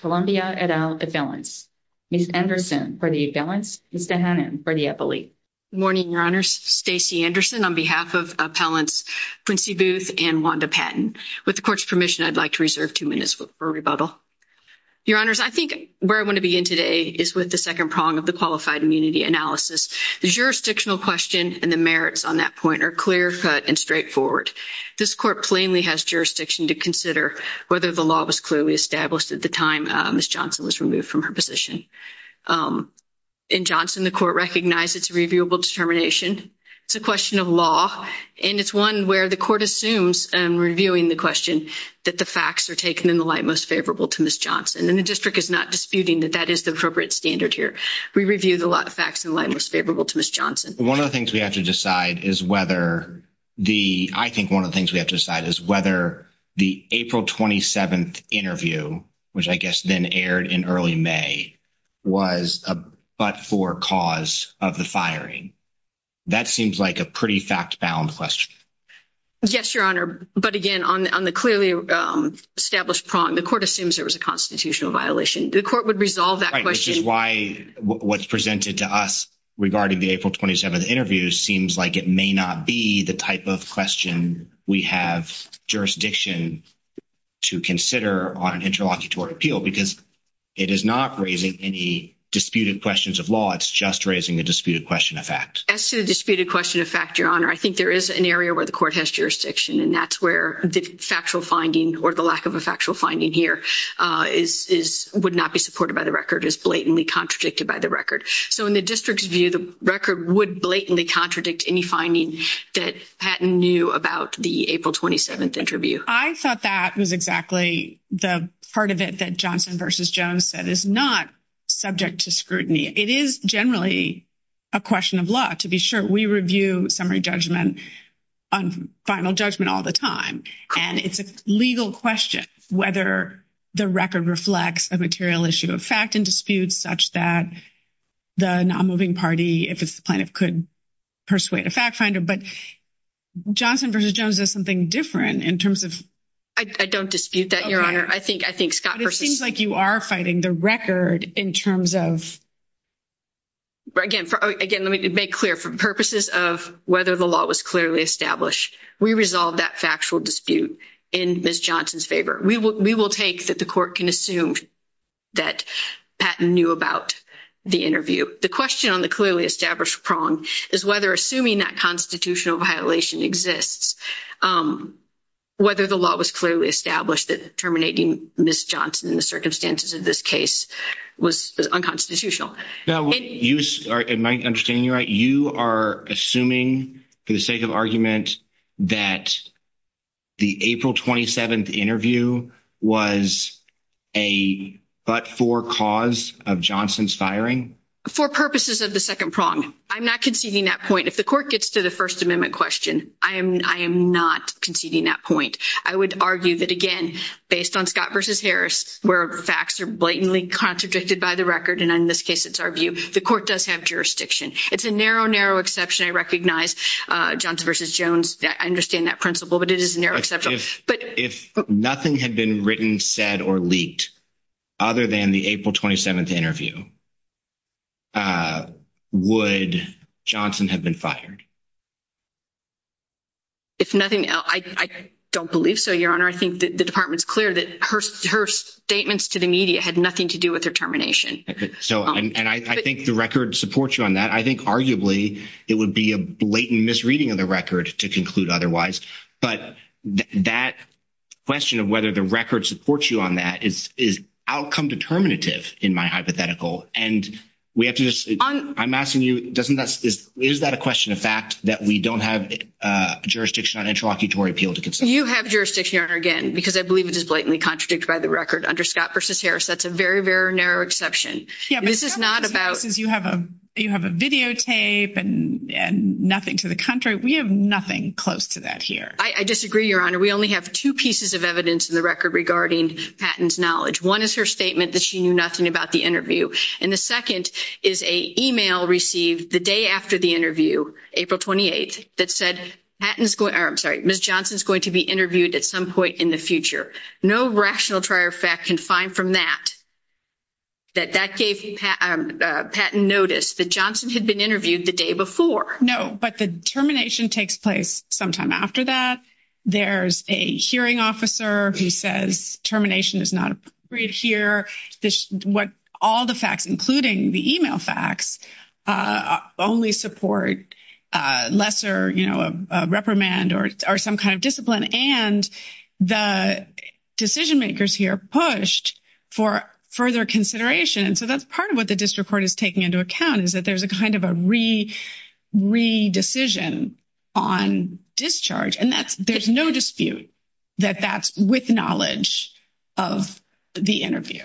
Columbia, et al., appellants. Ms. Anderson, for the appellants. Ms. DeHannan, for the appellate. Good morning, Your Honors. Stacey Anderson on behalf of Appellants Quincy Booth and Wanda Patton. With the Court's permission, I'd like to reserve two minutes for rebuttal. Your Honors, I think where I want to begin today is with the second prong of the qualified immunity analysis. The jurisdictional question and the merits on that point are clear-cut and straightforward. This Court plainly has jurisdiction to consider whether the law was clearly established at the time Ms. Johnson was removed from her position. In Johnson, the Court recognized its reviewable determination. It's a question of law, and it's one where the Court assumes in reviewing the question that the facts are taken in the light most favorable to Ms. Johnson. And the District is not disputing that that is the appropriate standard here. We review the facts in the light most favorable to Ms. Johnson. I think one of the things we have to decide is whether the April 27th interview, which I guess then aired in early May, was a but-for cause of the firing. That seems like a pretty fact-bound question. Yes, Your Honor. But again, on the clearly established prong, the Court assumes there was a constitutional violation. The Court would resolve that question. Right, which is why what's presented to us regarding the April 27th interview seems like it may not be the type of question we have jurisdiction to consider on an interlocutory appeal, because it is not raising any disputed questions of law. It's just raising a disputed question of fact. As to the disputed question of fact, Your Honor, I think there is an area where the Court has jurisdiction, and that's where the factual finding or the lack of a factual finding here would not be supported by the record, is blatantly contradicted by the record. So in the district's view, the record would blatantly contradict any finding that Patton knew about the April 27th interview. I thought that was exactly the part of it that Johnson v. Jones said is not subject to scrutiny. It is generally a question of law to be sure. We review summary judgment on final judgment all the time, and it's a legal question whether the record reflects a material issue of fact and dispute such that the nonmoving party, if it's the plaintiff, could persuade a fact finder. But Johnson v. Jones does something different in terms of... I don't dispute that, Your Honor. I think Scott versus... But it seems like you are fighting the record in terms of... Again, let me make clear, for purposes of whether the law was clearly established, we resolve that factual dispute in Ms. Johnson's favor. We will take that the court can assume that Patton knew about the interview. The question on the clearly established prong is whether assuming that constitutional violation exists, whether the law was clearly established that terminating Ms. Johnson in the circumstances of this case was unconstitutional. Now, am I understanding you right? You are assuming, for the sake of argument, that the April 27th interview was a but-for cause of Johnson's firing? For purposes of the second prong. I'm not conceding that point. If the court gets to the First Amendment question, I am not conceding that point. I would argue that, again, based on where facts are blatantly contradicted by the record, and in this case, it's our view, the court does have jurisdiction. It's a narrow, narrow exception. I recognize Johnson versus Jones. I understand that principle, but it is a narrow exception. If nothing had been written, said, or leaked other than the April 27th interview, would Johnson have been fired? If nothing else, I don't believe so, Your Honor. I think the Department is clear that her statements to the media had nothing to do with her termination. Okay. So, and I think the record supports you on that. I think, arguably, it would be a blatant misreading of the record to conclude otherwise. But that question of whether the record supports you on that is outcome determinative in my hypothetical, and we have to I'm asking you, is that a question of fact that we don't have jurisdiction on interlocutory appeal to consider? You have jurisdiction, Your Honor, again, because I believe it is blatantly contradicted by the record under Scott versus Harris. That's a very, very narrow exception. Yeah, but Scott versus Harris, you have a videotape and nothing to the contrary. We have nothing close to that here. I disagree, Your Honor. We only have two pieces of evidence in the record regarding Patton's knowledge. One is her statement that she knew nothing about the And the second is an email received the day after the interview, April 28th, that said, Ms. Johnson's going to be interviewed at some point in the future. No rational trier of fact can find from that that that gave Patton notice that Johnson had been interviewed the day before. No, but the termination takes place sometime after that. There's a hearing officer who says termination is not appropriate here. All the facts, including the email facts, only support lesser reprimand or some kind of discipline. And the decision makers here pushed for further consideration. And so that's part of what the district court is taking into account, is that there's a kind of a re-decision on discharge. And there's no dispute that that's with knowledge of the interview.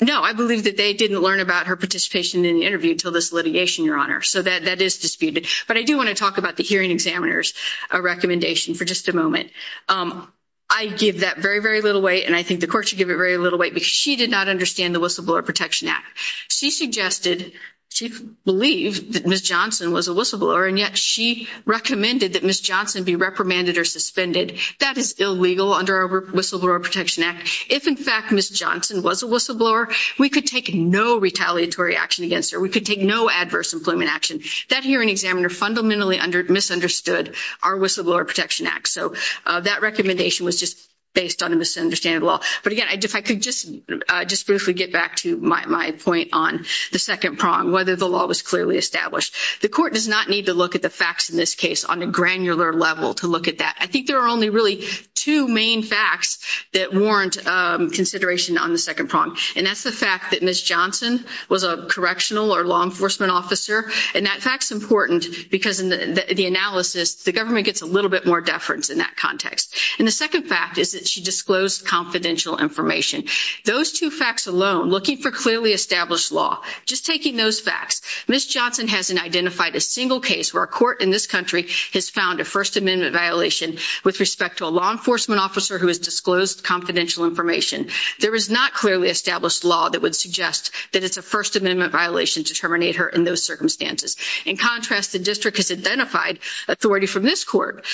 No, I believe that they didn't learn about her participation in the interview until this litigation, Your Honor. So that is disputed. But I do want to talk about the hearing examiner's recommendation for just a moment. I give that very, very little weight. And I think the court should give it very little weight because she did not understand the Whistleblower Protection Act. She suggested, she believed that Ms. Johnson was a whistleblower. And yet she recommended that Ms. Johnson be reprimanded or suspended. That is illegal under our Whistleblower Protection Act. If, in fact, Ms. Johnson was a whistleblower, we could take no retaliatory action against her. We could take no adverse employment action. That hearing examiner fundamentally misunderstood our Whistleblower Protection Act. So that recommendation was just based on a misunderstanding of the law. But again, if I could just briefly get back to my point on the second prong, whether the law was clearly established. The court does not need to look at the facts in this case on a granular level to look at that. I think there are only really two main facts that warrant consideration on the second prong. And that's the fact that Ms. Johnson was a correctional or law enforcement officer. And that fact's important because in the analysis, the government gets a little bit more deference in that context. And the second fact is that she disclosed confidential information. Those two facts alone, looking for clearly established law, just taking those facts, Ms. Johnson hasn't identified a single case where a court in this country has found a First Amendment violation with respect to a law enforcement officer who has disclosed confidential information. There is not clearly established law that would suggest that it's a First Amendment violation to terminate her in those circumstances. In contrast, the district has identified authority from this court,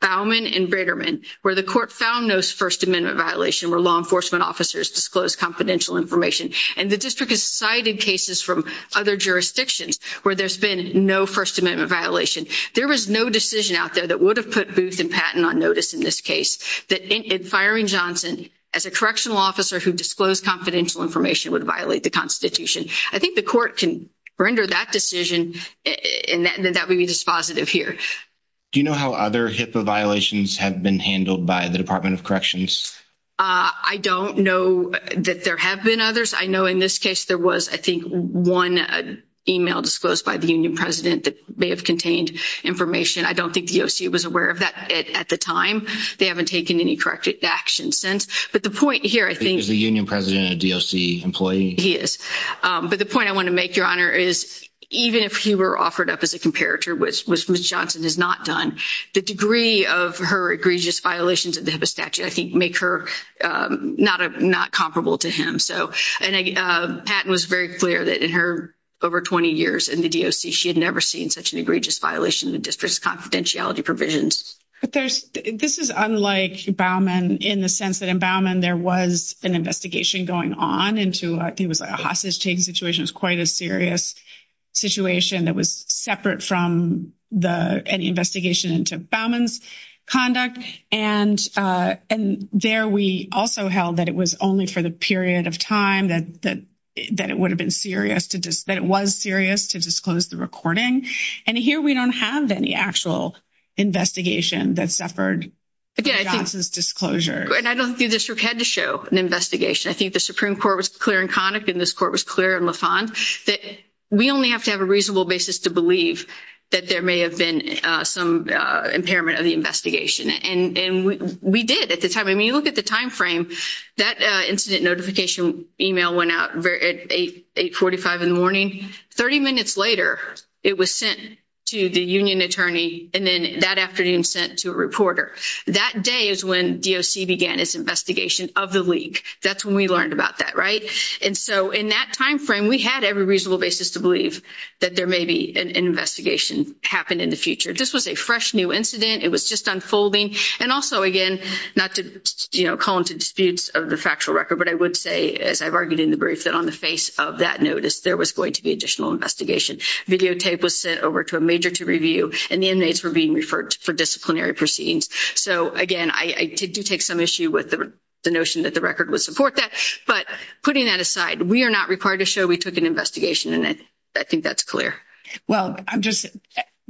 Bauman and Brigham, where the court found those First Amendment violations where law enforcement officers disclosed confidential information. And the district has cited cases from other jurisdictions where there's been no First Amendment violation. There is no decision out there that would have put Booth and Patton on notice in this case that in firing Johnson as a correctional officer who disclosed confidential information would violate the Constitution. I think the court can render that decision and that would be dispositive here. Do you know how other HIPAA violations have been handled by the Department of Corrections? I don't know that there have been others. I know in this case, there was, I think, one email disclosed by the union president that may have contained information. I don't think the DOC was aware of that at the time. They haven't taken any corrective action since. But the point here, I think... Is the union president a DOC employee? He is. But the point I want to make, Your Honor, is even if he were offered up as a comparator, which Ms. Johnson has not done, the degree of her egregious violations of the HIPAA statute, I think, make her not comparable to him. And Patton was very clear that in her over 20 years in the DOC, she had never seen such an egregious violation of the district's confidentiality provisions. But this is unlike Bauman in the sense that in Bauman, there was an investigation going on into... I think it was a hostage-taking situation. It was quite a serious situation that was separate from any investigation into Bauman's conduct. And there, we also held that it was only for the period of time that it would have been serious, that it was serious to disclose the recording. And here, we don't have any actual investigation that suffered from Johnson's disclosure. And I don't think the district had to show an investigation. I think the Supreme Court was clear in conduct, and this court was clear in Lafonde, that we only have to have a basis to believe that there may have been some impairment of the investigation. And we did at the time. I mean, you look at the time frame, that incident notification email went out at 8.45 in the morning. 30 minutes later, it was sent to the union attorney, and then that afternoon, sent to a reporter. That day is when DOC began its investigation of the leak. That's when we learned about that, right? And so in that time frame, we had every reasonable basis to believe that there may be an investigation happen in the future. This was a fresh new incident. It was just unfolding. And also, again, not to call into disputes of the factual record, but I would say, as I've argued in the brief, that on the face of that notice, there was going to be additional investigation. Videotape was sent over to a major to review, and the inmates were being referred for disciplinary proceedings. So again, I do take some issue with the notion that the record would support that. But putting that aside, we are not required to show we took an investigation, and I think that's clear. Well, I'm just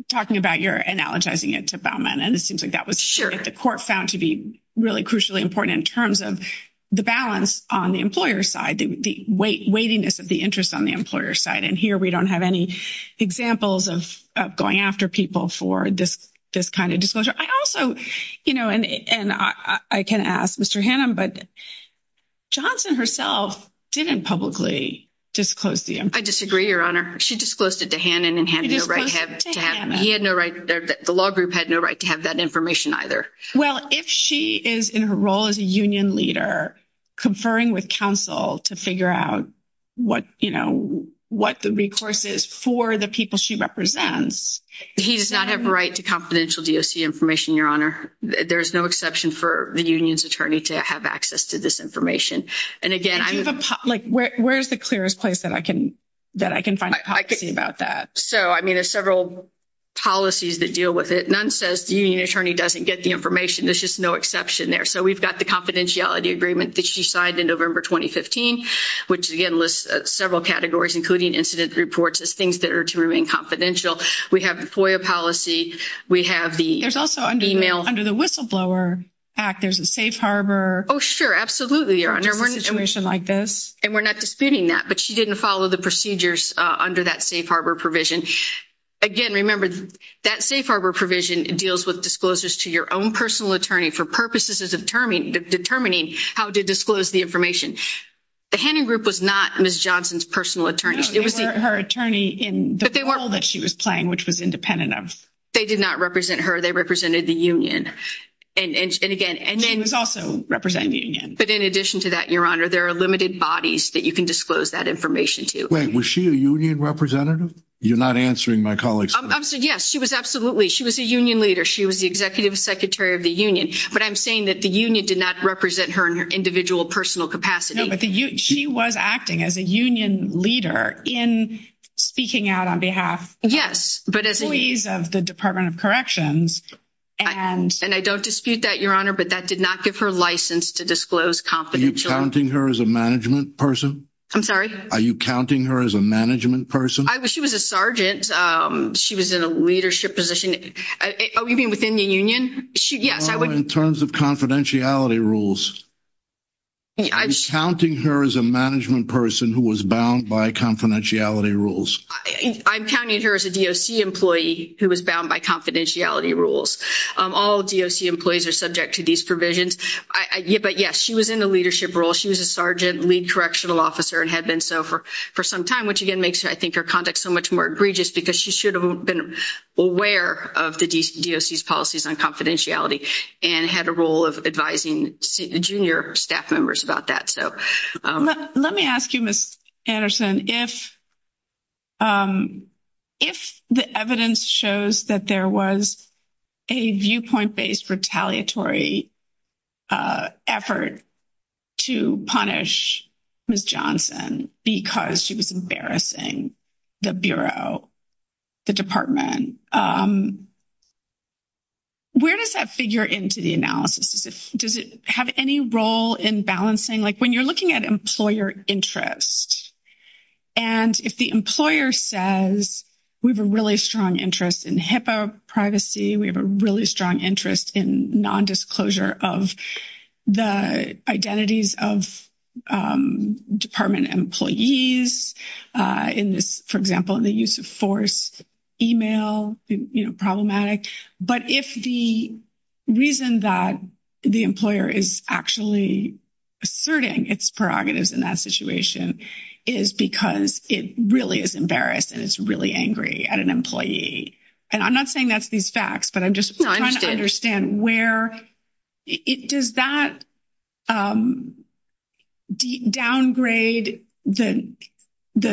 talking about your analogizing it to Baumann, and it seems like that was what the court found to be really crucially important in terms of the balance on the employer's side, the weightiness of the interest on the employer's side. And here, we don't have any examples of going after people for this kind of disclosure. I also, you know, and I can ask Mr. Hannum, but Johnson herself didn't publicly disclose the... I disagree, Your Honor. She disclosed it to Hannum, and Hannum had no right to have that information either. Well, if she is in her role as a union leader conferring with counsel to figure out what, you know, what the recourse is for the people she represents... He does not have a right to confidential DOC information, Your Honor. There's no exception for the union's attorney to have access to this information. And again, I'm... Where's the clearest place that I can find a policy about that? So, I mean, there's several policies that deal with it. None says the union attorney doesn't get the information. There's just no exception there. So, we've got the confidentiality agreement that she signed in November 2015, which again lists several categories, including incident reports as things that are to remain confidential. We have the FOIA policy. We have the email... There's also under the Whistleblower Act, there's a safe harbor... Oh, sure. Absolutely, Your Honor. ...situation like this. And we're not disputing that, but she didn't follow the procedures under that safe harbor provision. Again, remember, that safe harbor provision deals with disclosures to your own personal attorney for purposes of determining how to disclose the information. The Hannum group was not Ms. Johnson's personal attorney. It was... Her attorney in the role that she was playing, which was independent of... They did not represent her. They represented the union. And again... She was also representing the union. But in addition to that, Your Honor, there are limited bodies that you can disclose that information to. Wait, was she a union representative? You're not answering my colleague's question. Yes, she was absolutely. She was a union leader. She was the executive secretary of the union. But I'm saying that the union did not represent her in her individual personal capacity. No, but she was acting as a union leader in speaking out on behalf... Yes, but as a... ...employees of the Department of Corrections and... And I don't dispute that, Your Honor, but that did not give her license to disclose confidential... Are you counting her as a management person? I'm sorry? Are you counting her as a management person? She was a sergeant. She was in a leadership position. Oh, you mean within the union? She... Yes, I would... No, in terms of confidentiality rules. I'm counting her as a management person who was bound by confidentiality rules. I'm counting her as a DOC employee who was bound by confidentiality rules. All DOC employees are subject to these provisions. But, yes, she was in the leadership role. She was a sergeant lead correctional officer and had been so for some time, which, again, makes, I think, her conduct so much more egregious because she should have been aware of the DOC's policies on confidentiality and had a role of advising junior staff members about that. But let me ask you, Ms. Anderson, if the evidence shows that there was a viewpoint-based retaliatory effort to punish Ms. Johnson because she was embarrassing the Bureau, the Department, where does that figure into the analysis? Does it have any role in balancing? When you're looking at employer interest and if the employer says, we have a really strong interest in HIPAA privacy, we have a really strong interest in non-disclosure of the identities of Department employees in this, for example, in the use of force, email, problematic. But if the reason that the employer is actually asserting its prerogatives in that situation is because it really is embarrassed and it's really angry at an employee, and I'm not saying that's these facts, but I'm just trying to understand where, does that downgrade the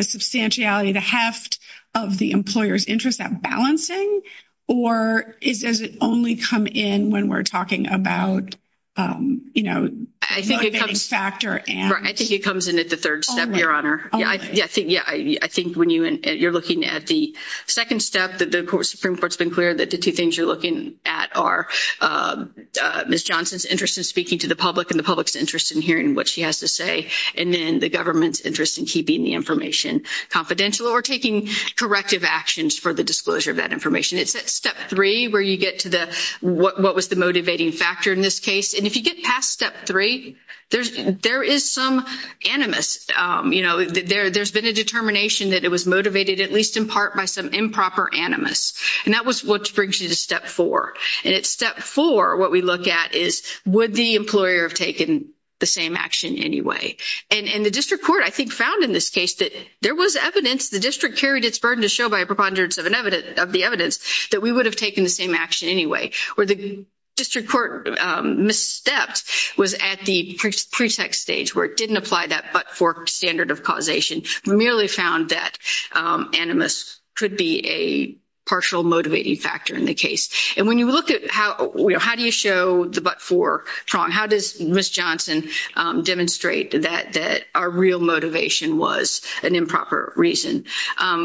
substantiality, the heft of the employer's interest at balancing or does it only come in when we're talking about, you know, factor and? Right, I think it comes in at the third step, Your Honor. Yeah, I think when you're looking at the second step, the Supreme Court's been clear that the two things you're looking at are Ms. Johnson's interest in speaking to the public and the public's interest in hearing what she has to say, and then the government's interest in keeping the information confidential or taking corrective actions for the disclosure of that information. It's at step three where you get to the, what was the motivating factor in this case, and if you get past step three, there is some animus, you know, there's been a determination that it was motivated at least in part by some improper animus, and that was what brings you to step four, and at step four, what we look at is would the employer have taken the same action anyway, and the district court, I think, found in this case that there was evidence, the district carried its burden to show by a preponderance of the evidence that we would have taken the same action anyway, where the district court misstepped was at the pretext stage where it didn't apply that but-for standard of causation, merely found that animus could be a partial motivating factor in the case, and when you look at how, you know, how do you show the but-for prong, how does Ms. Johnson demonstrate that our real motivation was an improper reason?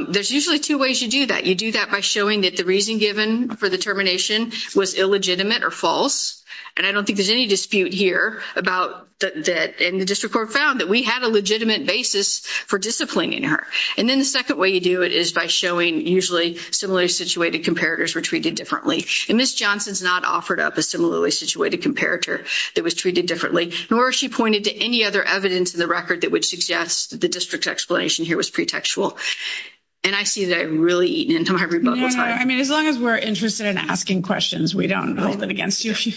There's usually two ways you do that. You do that by showing that the reason given for the termination was illegitimate or false, and I don't think there's any dispute here about that, and the district court found that we had a legitimate basis for disciplining her, and then the second way you do it is by showing usually similarly situated comparators were treated differently, and Ms. Johnson's not offered up a similarly situated comparator that was treated differently, nor she pointed to any other evidence in the record that would suggest the district's explanation here was pretextual, and I see that I've really eaten into my rebuttal time. No, no, I mean, as long as we're interested in asking questions, we don't hold it against you if you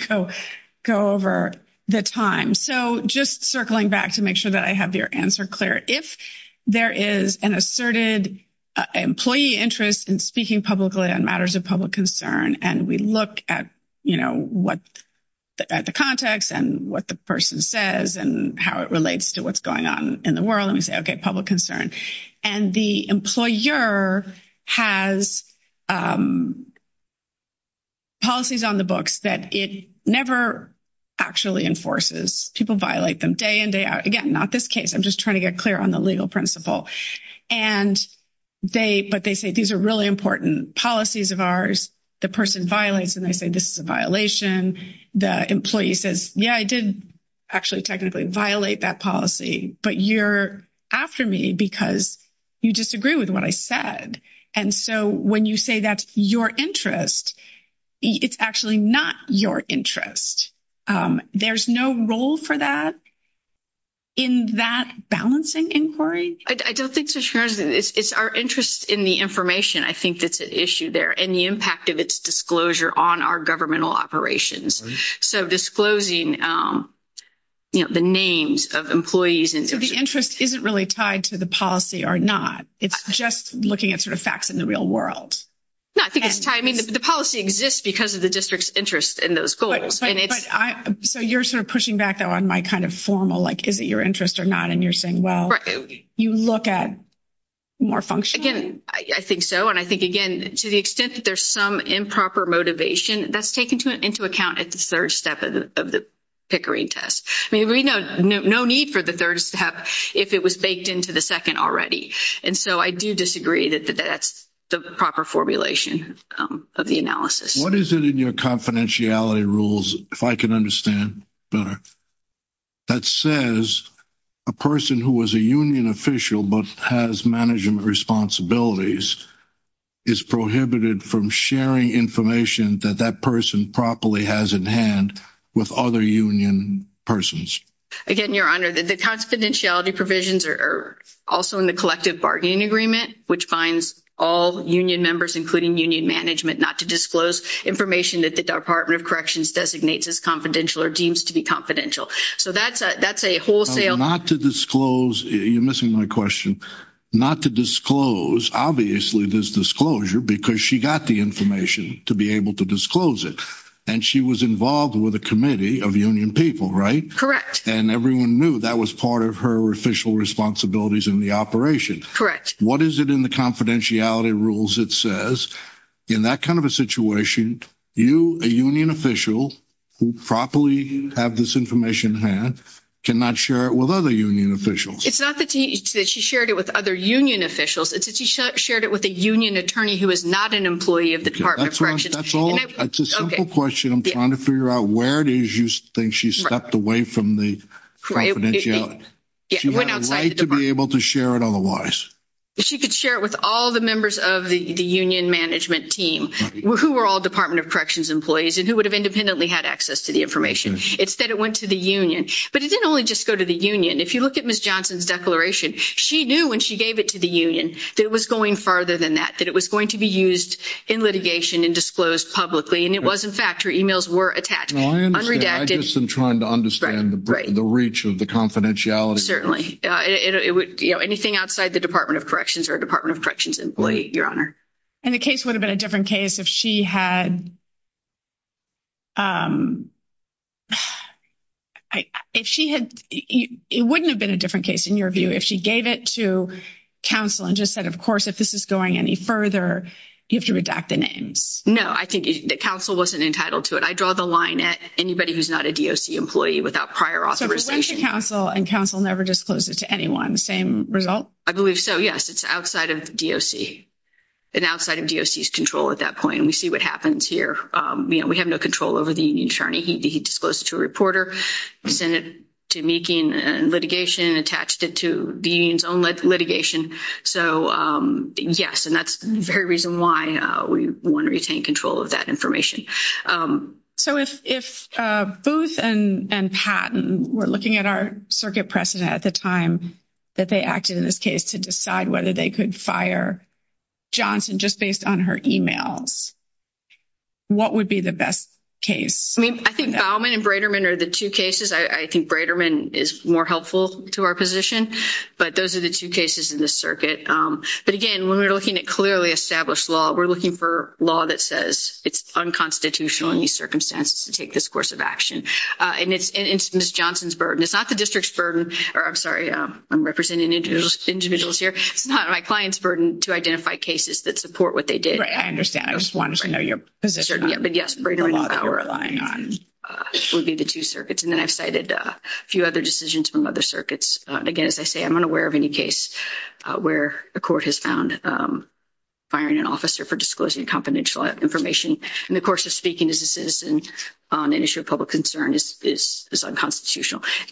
go over the time, so just circling back to make sure that I have your answer clear. If there is an asserted employee interest in speaking publicly on matters of public concern, and we look at the context and what the person says and how it relates to what's going on in the world, and we say, okay, public concern, and the employer has policies on the books that it never actually enforces. People violate them day in, day out. Again, not this case. I'm just trying to get clear on the legal principle, and they, but they say these are really important policies of ours. The person violates, and they say this is a violation. The employee says, yeah, I did actually technically violate that policy, but you're after me because you disagree with what I said, and so when you say that's your interest, it's actually not your interest. There's no role for that in that balancing inquiry. I don't think so, Sharon. It's our interest in the information. I think that's an issue there, and the impact of its disclosure on our governmental operations, so disclosing, you know, the names of employees. So the interest isn't really tied to the policy or not. It's just looking at sort of facts in the real world. No, I think it's tied. I mean, the policy exists because of the district's interest in those goals. So you're sort of balancing. Well, you look at more function. Again, I think so, and I think, again, to the extent that there's some improper motivation, that's taken into account at the third step of the Pickering test. I mean, we know no need for the third step if it was baked into the second already, and so I do disagree that that's the proper formulation of the analysis. What is it in your confidentiality rules, if I can understand better, that says a person who was a union official but has management responsibilities is prohibited from sharing information that that person properly has in hand with other union persons? Again, Your Honor, the confidentiality provisions are also in the collective bargaining agreement, which binds all union members, including union management, not to disclose information that the Department of Corrections designates as confidential or deems to be confidential. So that's a wholesale- Not to disclose. You're missing my question. Not to disclose. Obviously, there's disclosure because she got the information to be able to disclose it, and she was involved with a committee of union people, right? Correct. And everyone knew that was part of her official responsibilities in the operation. Correct. What is it in the in that kind of a situation, you, a union official, who properly have this information in hand, cannot share it with other union officials? It's not that she shared it with other union officials. It's that she shared it with a union attorney who is not an employee of the Department of Corrections. That's a simple question. I'm trying to figure out where it is you think she stepped away from the confidentiality. She had a right to be able to share it otherwise. She could share it with all the members of the union management team who were all Department of Corrections employees and who would have independently had access to the information. It's that it went to the union. But it didn't only just go to the union. If you look at Ms. Johnson's declaration, she knew when she gave it to the union that it was going farther than that, that it was going to be used in litigation and disclosed publicly. And it was, in fact, her emails were attached, unredacted. I understand. I guess I'm trying to understand the reach of the confidentiality. Certainly. Anything outside the Department of Corrections or a Department of Corrections employee, Your Honor. And the case would have been a different case if she had... It wouldn't have been a different case in your view if she gave it to counsel and just said, of course, if this is going any further, you have to redact the names. No, I think the counsel wasn't entitled to it. I draw the line at anybody who's not a DOC employee without prior authorization. So it went to counsel and counsel never disclosed it to anyone. Same result? I believe so. Yes. It's outside of DOC. And outside of DOC's control at that point. And we see what happens here. We have no control over the union attorney. He disclosed it to a reporter. He sent it to Meeking and litigation and attached it to the union's own litigation. So yes. And that's the very reason why we want to retain control of that information. So if Booth and Patton were looking at our circuit precedent at the time that they acted in this case to decide whether they could fire Johnson just based on her emails, what would be the best case? I mean, I think Bauman and Breiterman are the two cases. I think Breiterman is more helpful to our position. But those are the two cases in this circuit. But again, when we're looking at clearly established law, we're looking for law that says it's unconstitutional in these circumstances to take this course of action. And it's Ms. Johnson's burden. It's not the district's burden. Or I'm sorry, I'm representing individuals here. It's not my client's burden to identify cases that support what they did. Right. I understand. I just wanted to know your position on the law that you're relying on. But yes, Breiterman and Fowler would be the two circuits. And then I've cited a few other decisions from other circuits. Again, as I say, I'm unaware of any case where a court has found firing an officer for disclosing confidential information in the course of speaking as a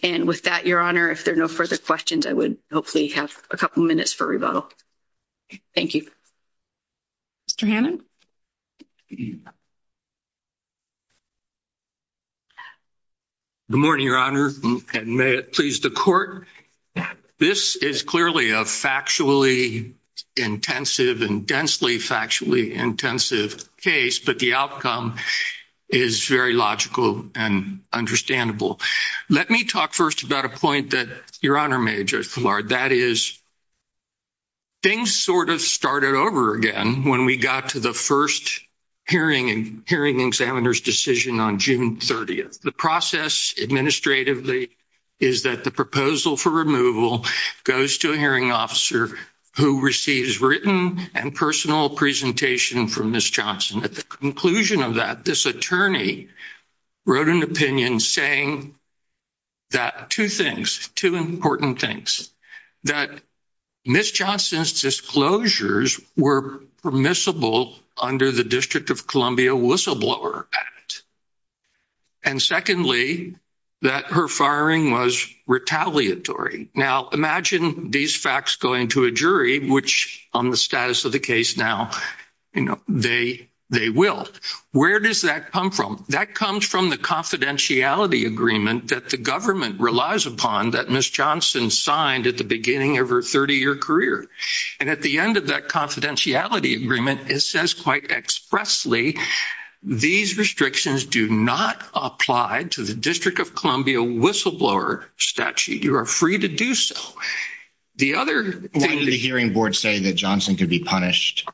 And with that, Your Honor, if there are no further questions, I would hopefully have a couple minutes for rebuttal. Thank you. Mr. Hannon. Good morning, Your Honor. And may it please the court. This is clearly a factually intensive and densely factually intensive case, but the outcome is very logical and understandable. Let me talk first about a point that Your Honor made, Judge Millard. That is, things sort of started over again when we got to the first hearing and hearing examiner's decision on June 30th. The process administratively is that the proposal for removal goes to a hearing officer who receives written and personal presentation from Ms. Johnson. At the conclusion of that, this attorney wrote an opinion saying that two things, two important things. That Ms. Johnson's disclosures were permissible under the District of Columbia Whistleblower Act. And secondly, that her firing was retaliatory. Now, imagine these facts going to a jury, which on the status of the case now, they will. Where does that come from? That comes from the confidentiality agreement that the government relies upon that Ms. Johnson signed at the beginning of her 30-year career. And at the end of that confidentiality agreement, it says quite expressly, these restrictions do not apply to the District of Columbia Whistleblower Statute. You are free to do so. The other thing... Why did the hearing board say that Johnson could be punished?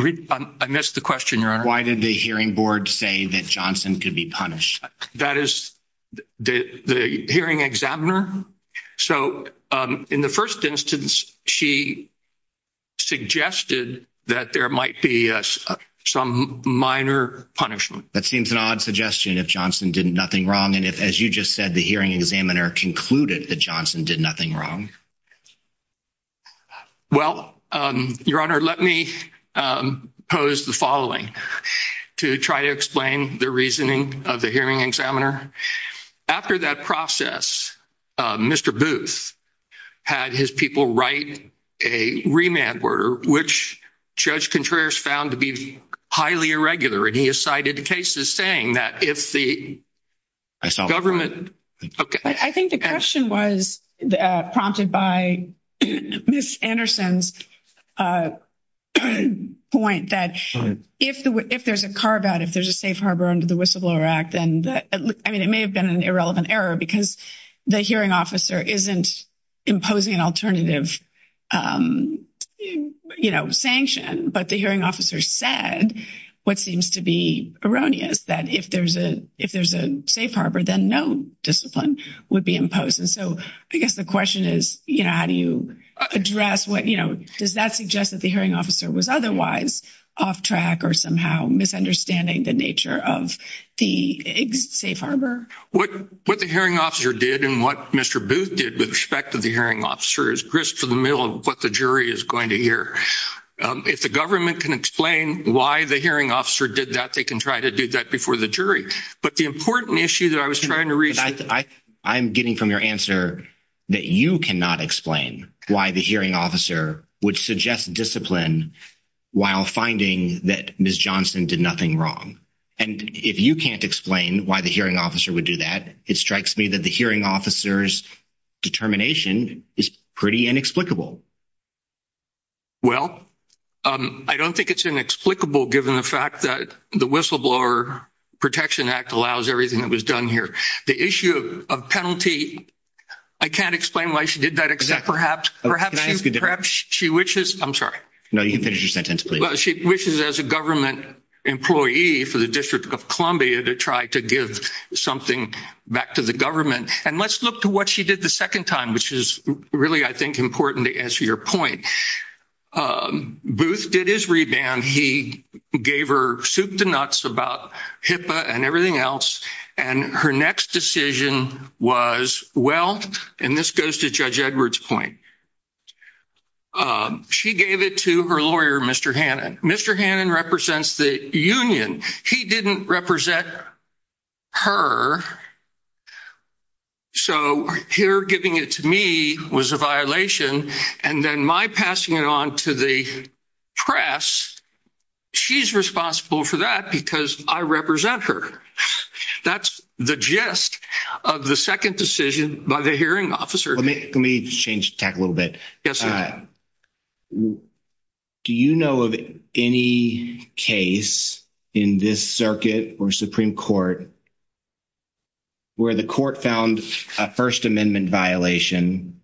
I missed the question, Your Honor. Why did the hearing board say that Johnson could be punished? That is, the hearing examiner? So, in the first instance, she suggested that there might be some minor punishment. That seems an odd suggestion, if Johnson did nothing wrong, and if, as you just said, the hearing examiner concluded that Johnson did nothing wrong. Well, Your Honor, let me pose the following to try to explain the reasoning of the hearing examiner. After that process, Mr. Booth had his people write a remand order, which Judge Contreras found to be highly irregular, and he has cited cases saying that if the government... I think the question was prompted by Ms. Anderson's point that if there's a carve-out, if there's a safe harbor under the Whistleblower Act, I mean, it may have been an irrelevant error because the hearing officer isn't imposing an alternative sanction, but the hearing officer said what seems to be erroneous, that if there's a safe harbor, then no discipline would be imposed. And so, I guess the question is, how do you address what... Does that suggest that the hearing officer was otherwise off track or somehow misunderstanding the nature of the safe harbor? What the hearing officer did and what Mr. Booth did with respect to the hearing officer is crisp to the middle of what the jury is going to hear. If the government can explain why the hearing officer did that, they can try to do that before the jury. But the important issue that I was trying to reach... I'm getting from your answer that you cannot explain why the hearing officer would suggest discipline while finding that Ms. Johnson did nothing wrong. And if you can't explain why the hearing officer would do that, it strikes me that the hearing officer's determination is pretty inexplicable. Well, I don't think it's inexplicable given the fact that the Whistleblower Protection Act allows everything that was done here. The issue of penalty, I can't explain why she did that except perhaps she wishes... I'm sorry. No, you can finish your She wishes as a government employee for the District of Columbia to try to give something back to the government. And let's look to what she did the second time, which is really, I think, important to answer your point. Booth did his reband. He gave her soup to nuts about HIPAA and everything else. And her next decision was, well, and this goes to Judge Mr. Hannon. Mr. Hannon represents the union. He didn't represent her. So here giving it to me was a violation. And then my passing it on to the press, she's responsible for that because I represent her. That's the gist of the second decision by the hearing officer. Let me change tack a little bit. Do you know of any case in this circuit or Supreme Court where the court found a First Amendment violation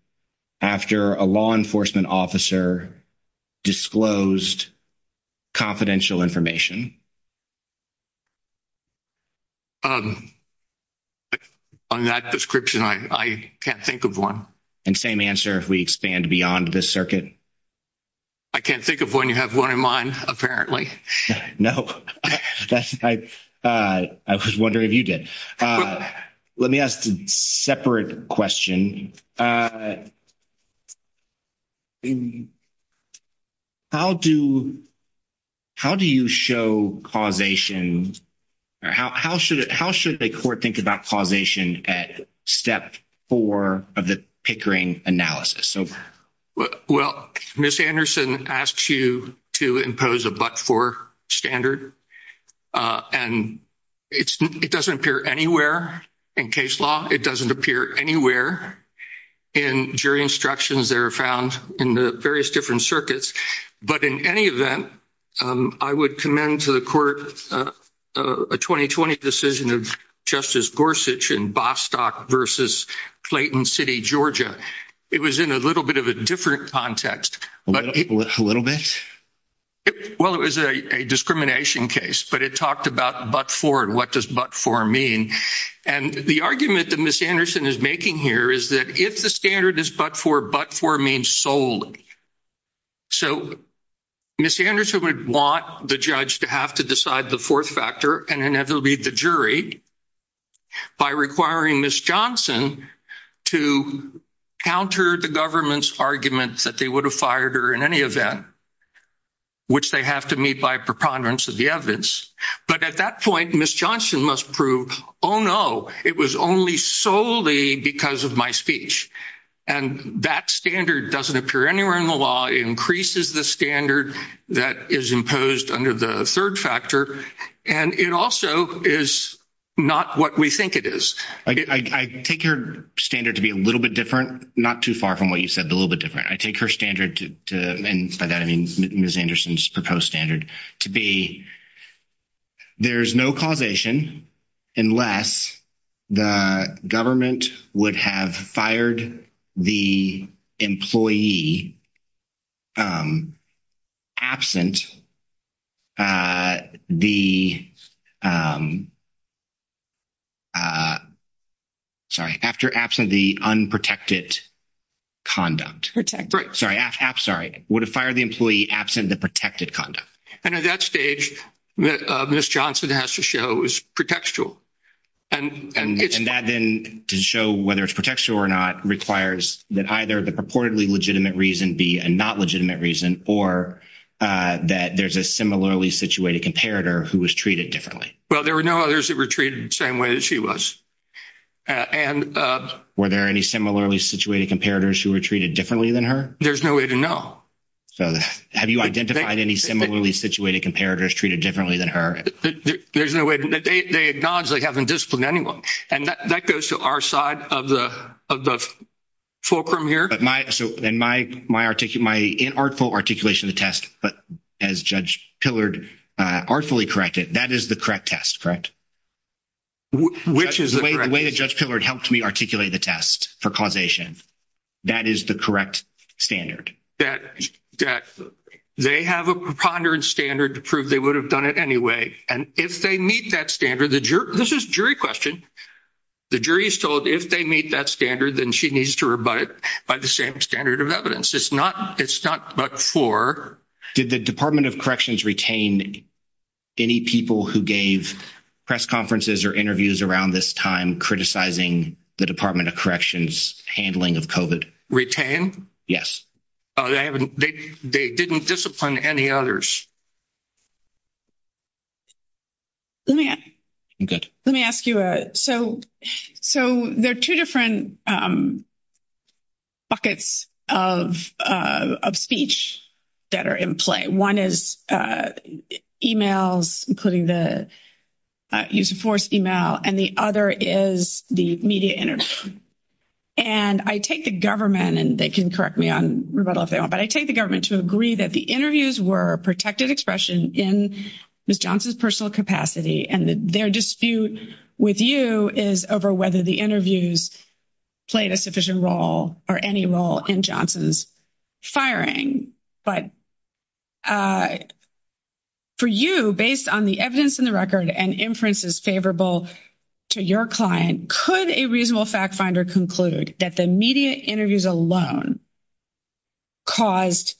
after a law enforcement officer disclosed confidential information? On that description, I can't think of one. And same answer if we expand beyond this circuit? I can't think of one. You have one in mind, apparently. No, I was wondering if you did. Let me ask a separate question. In how do you show causation or how should the court think about causation at step four of the Pickering analysis? Well, Ms. Anderson asked you to impose a but-for standard. And it doesn't appear anywhere in case law. It doesn't appear anywhere in jury instructions that are found in the various different circuits. But in any event, I would commend to the court a 2020 decision of Justice Gorsuch in Bostock versus Clayton City, Georgia. It was in a little bit of a different context. A little bit? It was a discrimination case, but it talked about but-for and what does but-for mean. And the argument that Ms. Anderson is making here is that if the standard is but-for, but-for means solely. So Ms. Anderson would want the judge to have to decide the fourth factor and inevitably the jury by requiring Ms. Johnson to counter the government's argument that they would have fired her in any event, which they have to meet by preponderance of the evidence. But at that point, Ms. Johnson must prove, oh, no, it was only solely because of my speech. And that standard doesn't appear anywhere in the law. It increases the standard that is imposed under the third factor. And it also is not what we think it is. I take her standard to be a little bit different, not too far from what you said, but a little bit different. I take her standard and by that I mean Ms. Anderson's proposed standard to be there's no causation unless the government would have fired the employee absent the sorry, after absent the unprotected conduct. Protected. Right. Sorry. Would have fired the employee absent the protected conduct. And at that stage, Ms. Johnson has to show it was pretextual. And that then to show whether it's pretextual or not requires that either the purportedly legitimate reason be a not legitimate reason or that there's a similarly situated comparator who was treated differently. Well, there were no others that were treated the same way that she was. And were there any similarly situated comparators who were treated differently than her? There's no way to know. So, have you identified any similarly situated comparators treated differently than her? There's no way. They acknowledge they haven't disciplined anyone. And that goes to our side of the fulcrum here. But my, so then my artful articulation of the test, but as Judge Pillard artfully corrected, that is the correct test, correct? Which is the correct test? The way that Judge Pillard helped me articulate the test for causation, that is the correct standard. That they have a preponderance standard to prove they would have done it anyway. And if they meet that standard, the jury, this is jury question. The jury is told if they meet that standard, then she needs to rebut it by the same standard of evidence. It's not, it's not but for. Did the Department of Corrections retain any people who gave press conferences or interviews around this time criticizing the Department of Corrections handling of COVID? Retain? Yes. They haven't, they didn't discipline any others. Let me, let me ask you a, so, so there are two different buckets of, of speech that are in play. One is emails, including the use of force email, and the other is the media interview. And I take the government, and they can correct me on rebuttal if they want, but I take the government to agree that the interviews were protected expression in Ms. Johnson's personal capacity and their dispute with you is over whether the interviews played a sufficient role or any role in Johnson's firing. But for you, based on the evidence in the record and inferences favorable to your client, could a reasonable fact finder conclude that the media interviews alone caused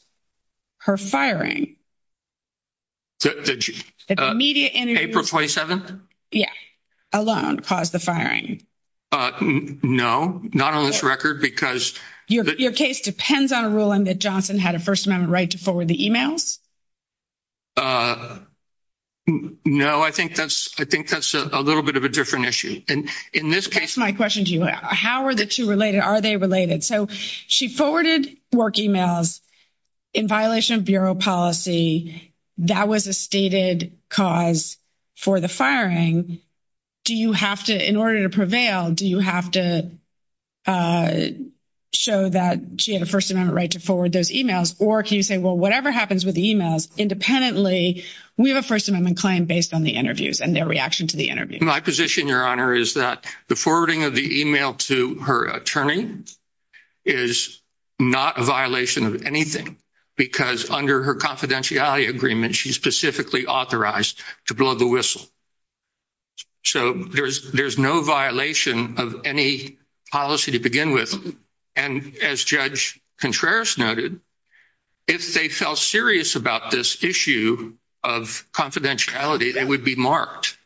her firing? That the media interview. April 27th? Yeah, alone caused the firing. No, not on this record because. Your case depends on a ruling that Johnson had a First Amendment right to forward the emails? No, I think that's, I think that's a little bit of a different issue. In this case, my question to you, how are the two related? Are they related? So she forwarded work emails in violation of bureau policy. That was a stated cause for the firing. Do you have to, in order to prevail, do you have to show that she had a First Amendment right to forward those emails? Or can you say, well, whatever happens with the emails, independently, we have a First Amendment claim based on the interviews and their reaction to the interview. My position, Your Honor, is that the forwarding of the email to her attorney is not a violation of anything because under her confidentiality agreement, she's specifically authorized to blow the whistle. So there's no violation of any policy to begin with. And as Judge Contreras noted, if they felt serious about this issue of confidentiality, it would be marked.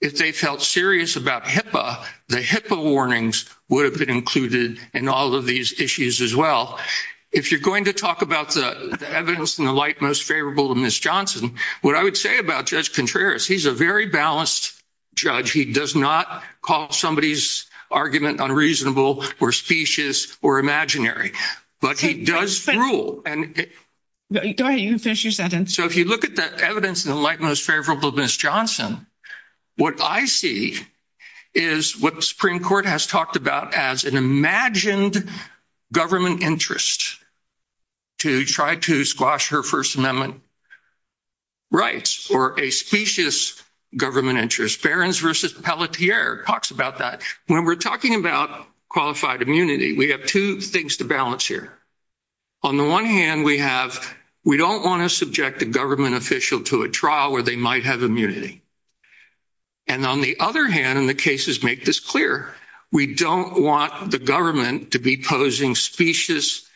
If they felt serious about HIPAA, the HIPAA warnings would have been included in all of these issues as well. If you're going to talk about the evidence in the light most favorable to Ms. Johnson, what I would say about Judge Contreras, he's a very balanced judge. He does not call somebody's argument unreasonable or specious or imaginary, but he does rule. And go ahead, you can finish your sentence. So if you look at that evidence in the light most favorable to Ms. Johnson, what I see is what the Supreme Court has talked about as an imagined government interest to try to squash her First Amendment rights or a specious government interest. Barron's versus Pelletier talks about that. When we're talking about qualified immunity, we have two things to balance here. On the one hand, we don't want to subject a government official to a trial where they might have immunity. And on the other hand, and the cases make this clear, we don't want the government to be posing specious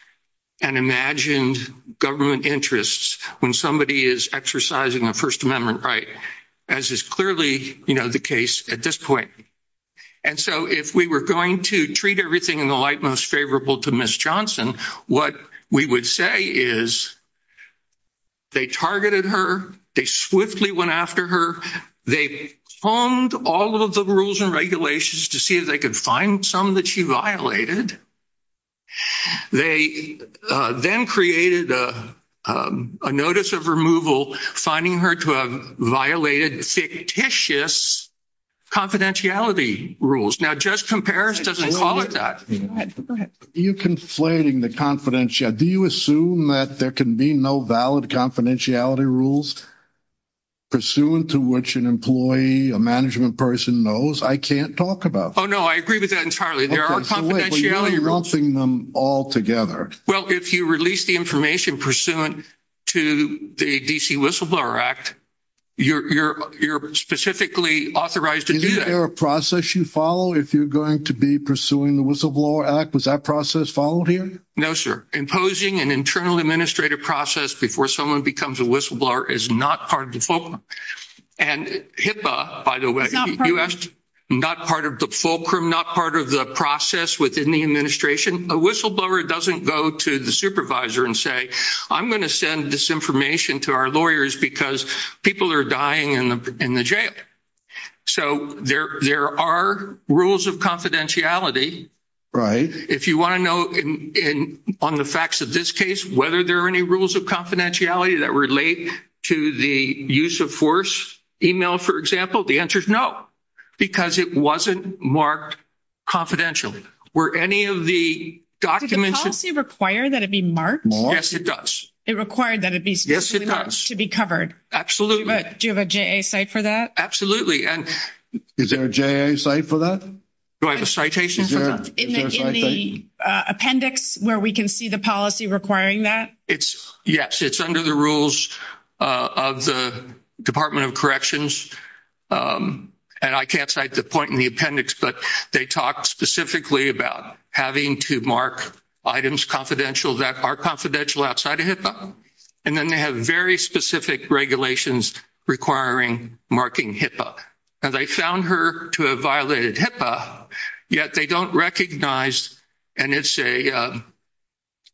and imagined government interests when somebody is exercising a First Amendment right, as is clearly the case at this point. And so if we were going to treat everything in the light most favorable to Ms. Johnson, what we would say is they targeted her. They swiftly went after her. They honed all of the rules and regulations to see if they could find some that she violated. They then created a notice of removal, finding her to have violated fictitious confidentiality rules. Now, Judge Comparis doesn't call it that. You conflating the confidentiality. Do you assume that there can be no valid confidentiality rules pursuant to which an employee, a management person knows? I can't talk about. Oh, no, I agree with that entirely. There are confidentiality rules. You're lumping them all together. Well, if you release the information pursuant to the D.C. Is there a process you follow if you're going to be pursuing the whistleblower act? Was that process followed here? No, sir. Imposing an internal administrative process before someone becomes a whistleblower is not part of the fulcrum and HIPAA, by the way, not part of the fulcrum, not part of the process within the administration. A whistleblower doesn't go to the supervisor and say, I'm going to send this information to our lawyers because people are dying in the jail. So there are rules of confidentiality. Right. If you want to know on the facts of this case, whether there are any rules of confidentiality that relate to the use of force email, for example, the answer is no, because it wasn't marked confidentially. Were any of the documents. Did the policy require that it be marked? Yes, it does. It required that it be marked to be covered. Absolutely. Do you have a J.A. site for that? Absolutely. And is there a J.A. site for that? Do I have a citation for that? In the appendix where we can see the policy requiring that. It's yes, it's under the rules of the Department of Corrections. And I can't cite the point in the appendix, but they talk specifically about having to mark items confidential that are confidential outside of HIPAA. And then they have very specific regulations requiring marking HIPAA. And they found her to have violated HIPAA, yet they don't recognize, and it's a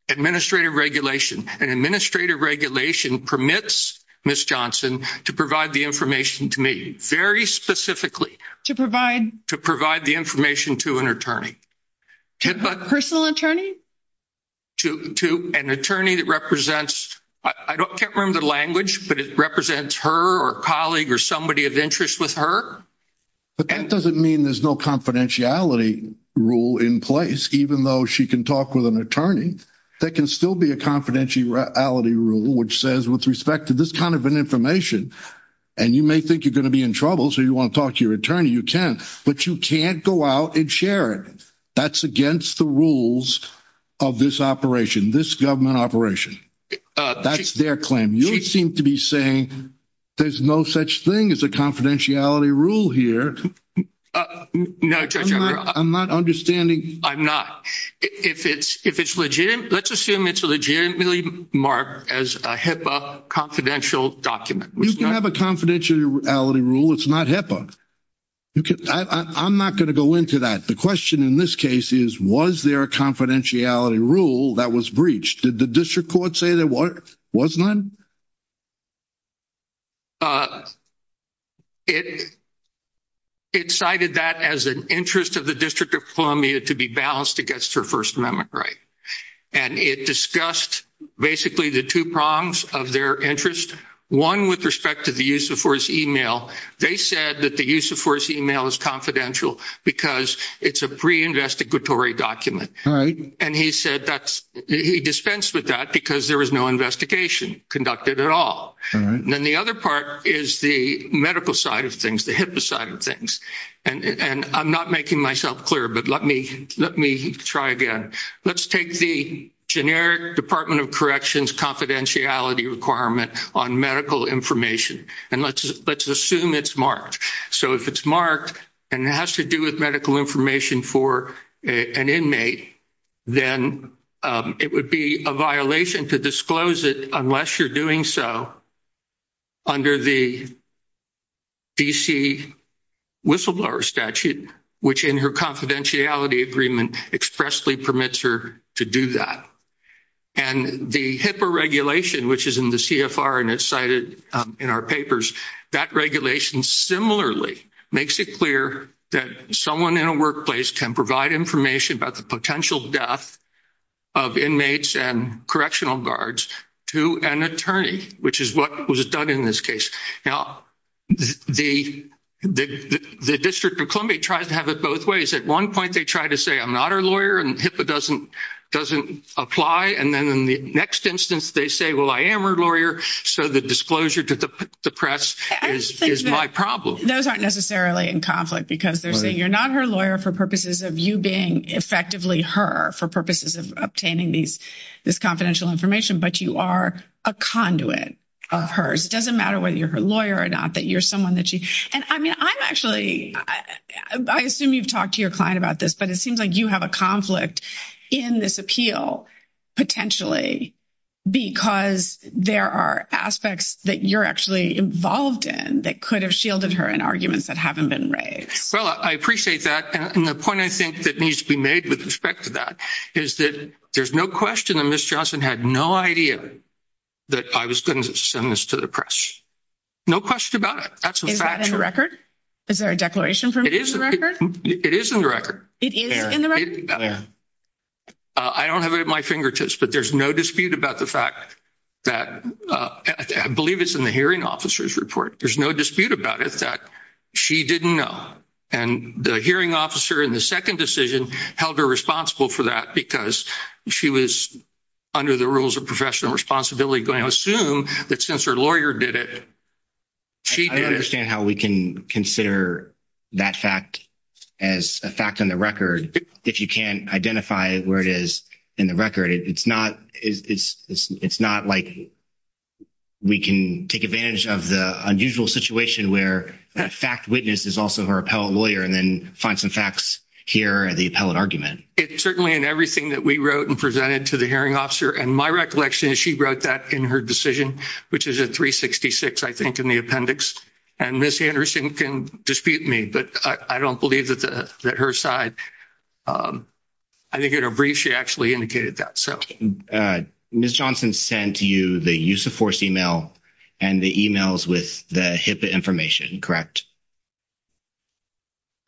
administrative regulation. An administrative regulation permits Ms. Johnson to provide the information to me very specifically. To provide? To provide the information to an attorney. Personal attorney? To an attorney that represents, I can't remember the language, but it represents her or a colleague or somebody of interest with her. But that doesn't mean there's no confidentiality rule in place. Even though she can talk with an attorney, there can still be a confidentiality rule which says with respect to this kind of information, and you may think you're going to be in trouble, so you want to talk to your attorney, you can. But you can't go out and share it. That's against the rules of this operation, this government operation. That's their claim. You seem to be saying there's no such thing as a confidentiality rule here. No, Judge. I'm not understanding. I'm not. If it's legitimate, let's assume it's legitimately marked as a HIPAA confidential document. You can have a confidentiality rule. It's not HIPAA. I'm not going to go into that. The question in this case is, was there a confidentiality rule that was breached? Did the district court say there was none? It cited that as an interest of the District of Columbia to be balanced against her First Amendment right. And it discussed basically the two prongs of their interest, one with respect to the use of force email. They said that the use of force email is confidential because it's a pre-investigatory document. And he said that he dispensed with that because there was no investigation conducted at all. Then the other part is the medical side of things, the HIPAA side of things. And I'm not making myself clear, but let me try again. Let's take the generic Department of Corrections confidentiality requirement on medical information. And let's assume it's marked. So if it's marked and it has to do with medical information for an inmate, then it would be a violation to disclose it unless you're doing so under the DC whistleblower statute, which in her confidentiality agreement expressly permits her to do that. And the HIPAA regulation, which is in the CFR and it's cited in our papers, that regulation similarly makes it clear that someone in a workplace can provide information about the potential death of inmates and correctional guards to an attorney, which is what was done in this case. Now, the District of Columbia tries to have it both ways. At one point, they try to say, I'm not her lawyer and HIPAA doesn't apply. And then in the next instance, they say, well, I am her lawyer. So the disclosure to the press is my problem. Those aren't necessarily in conflict because they're saying you're not her lawyer for purposes of you being effectively her for purposes of obtaining this confidential information, but you are a conduit of hers. It doesn't matter whether you're her lawyer or not, that you're someone that she. And I mean, I'm actually, I assume you've talked to your client about this, but it seems like you have a conflict in this appeal potentially because there are aspects that you're actually involved in that could have shielded her in arguments that haven't been raised. Well, I appreciate that. And the point I think that needs to be made with respect to that is that there's no question that Ms. Johnson had no idea that I was going to send this to the press. No question about it. Is that in the record? Is there a declaration from you in the record? It is in the record. It is in the record? I don't have it at my fingertips, but there's no dispute about the fact that I believe it's in the hearing officer's report. There's no dispute about it that she didn't know. And the hearing officer in the second decision held her responsible for that because she was under the rules of professional responsibility going to assume that since her lawyer did it, she did it. I don't understand how we can consider that fact as a fact on the record if you can't identify where it is in the record. It's not like we can take advantage of the unusual situation where the fact witness is also her appellate lawyer and then find some facts here in the appellate argument. It's certainly in everything that we wrote and presented to the hearing officer. My recollection is she wrote that in her decision, which is at 366, I think, in the appendix. And Ms. Anderson can dispute me, but I don't believe that her side. I think in her brief, she actually indicated that. Ms. Johnson sent you the use of force email and the emails with the HIPAA information, correct?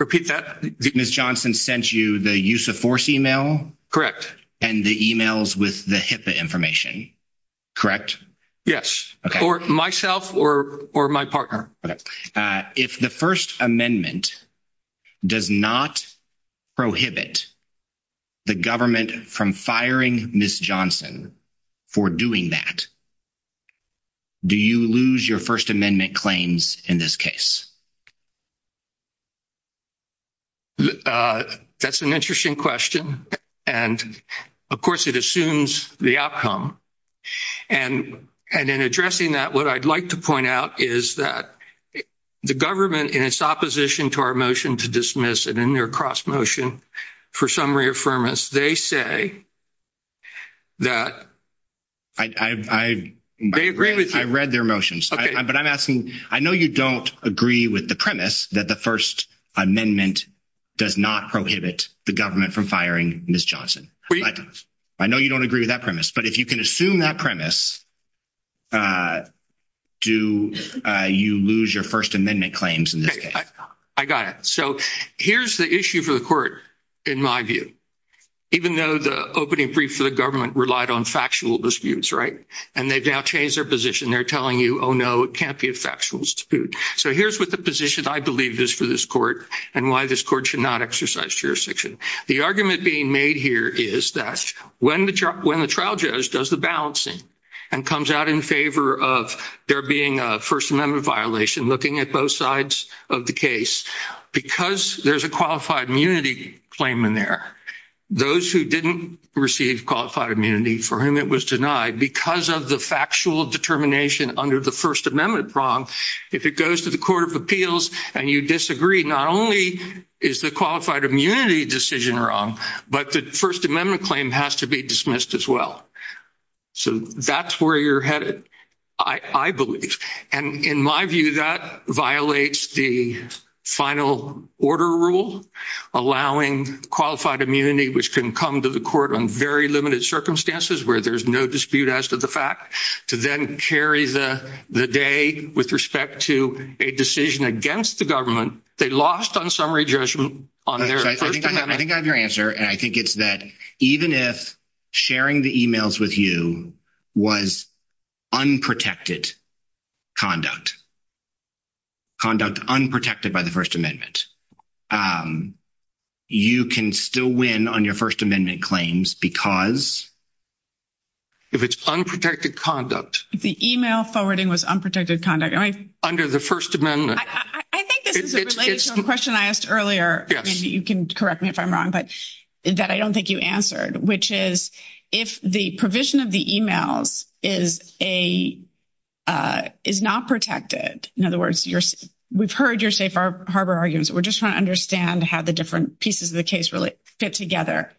Repeat that. Ms. Johnson sent you the use of force email? Correct. And the emails with the HIPAA information, correct? Yes, or myself or my partner. If the First Amendment does not prohibit the government from firing Ms. Johnson for doing that, do you lose your First Amendment claims in this case? That's an interesting question. And, of course, it assumes the outcome. And in addressing that, what I'd like to point out is that the government, in its opposition to our motion to dismiss it in their cross-motion for summary affirmance, they say that... They agree with you. I read their motions. But I'm asking, I know you don't agree with the motion, but I'm asking, that the First Amendment does not prohibit the government from firing Ms. Johnson. I know you don't agree with that premise, but if you can assume that premise, do you lose your First Amendment claims in this case? I got it. So here's the issue for the court, in my view. Even though the opening brief for the government relied on factual disputes, right? And they've now changed their position. They're telling you, oh, no, it can't be a factual dispute. So here's what the position I believe is for this court, and why this court should not exercise jurisdiction. The argument being made here is that when the trial judge does the balancing and comes out in favor of there being a First Amendment violation, looking at both sides of the case, because there's a qualified immunity claim in there, those who didn't receive qualified immunity, for whom it was denied, because of the factual determination under the First Amendment prong, if it goes to the Court of Appeals and you disagree, not only is the qualified immunity decision wrong, but the First Amendment claim has to be dismissed as well. So that's where you're headed, I believe. And in my view, that violates the final order rule, allowing qualified immunity, which can come to the court on very limited circumstances, where there's no dispute as to the fact, to then carry the day with respect to a decision against the government. They lost on summary judgment on their First Amendment. I think I have your answer. And I think it's that even if sharing the emails with you was unprotected conduct, conduct unprotected by the First Amendment, you can still win on your First Amendment claims because... If it's unprotected conduct. If the email forwarding was unprotected conduct. Under the First Amendment. I think this is related to a question I asked earlier, and you can correct me if I'm wrong, but that I don't think you answered, which is, if the provision of the emails is not protected, in other words, we've heard your safe harbor arguments, we're just trying to understand how the different pieces of the case really fit together.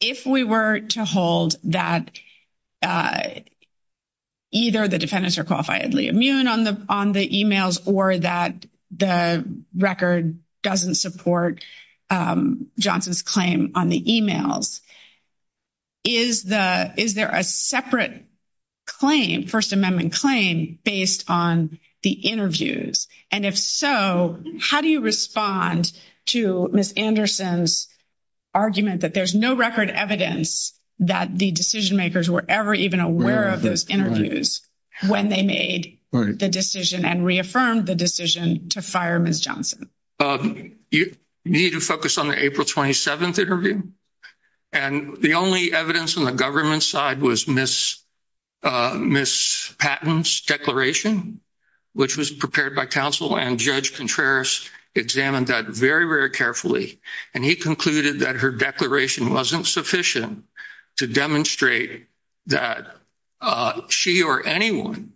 If we were to hold that either the defendants are qualifiedly immune on the emails, or that the record doesn't support Johnson's claim on the emails, is there a separate claim, First Amendment claim based on the interviews? And if so, how do you respond to Ms. Anderson's argument that there's no record evidence that the decision makers were ever even aware of those interviews when they made the decision and reaffirmed the decision to fire Ms. Johnson? You need to focus on the April 27th interview. And the only evidence on the government side was Ms. Patton's declaration, which was prepared by counsel and Judge Contreras examined that very, very carefully. And he concluded that her declaration wasn't sufficient to demonstrate that she or anyone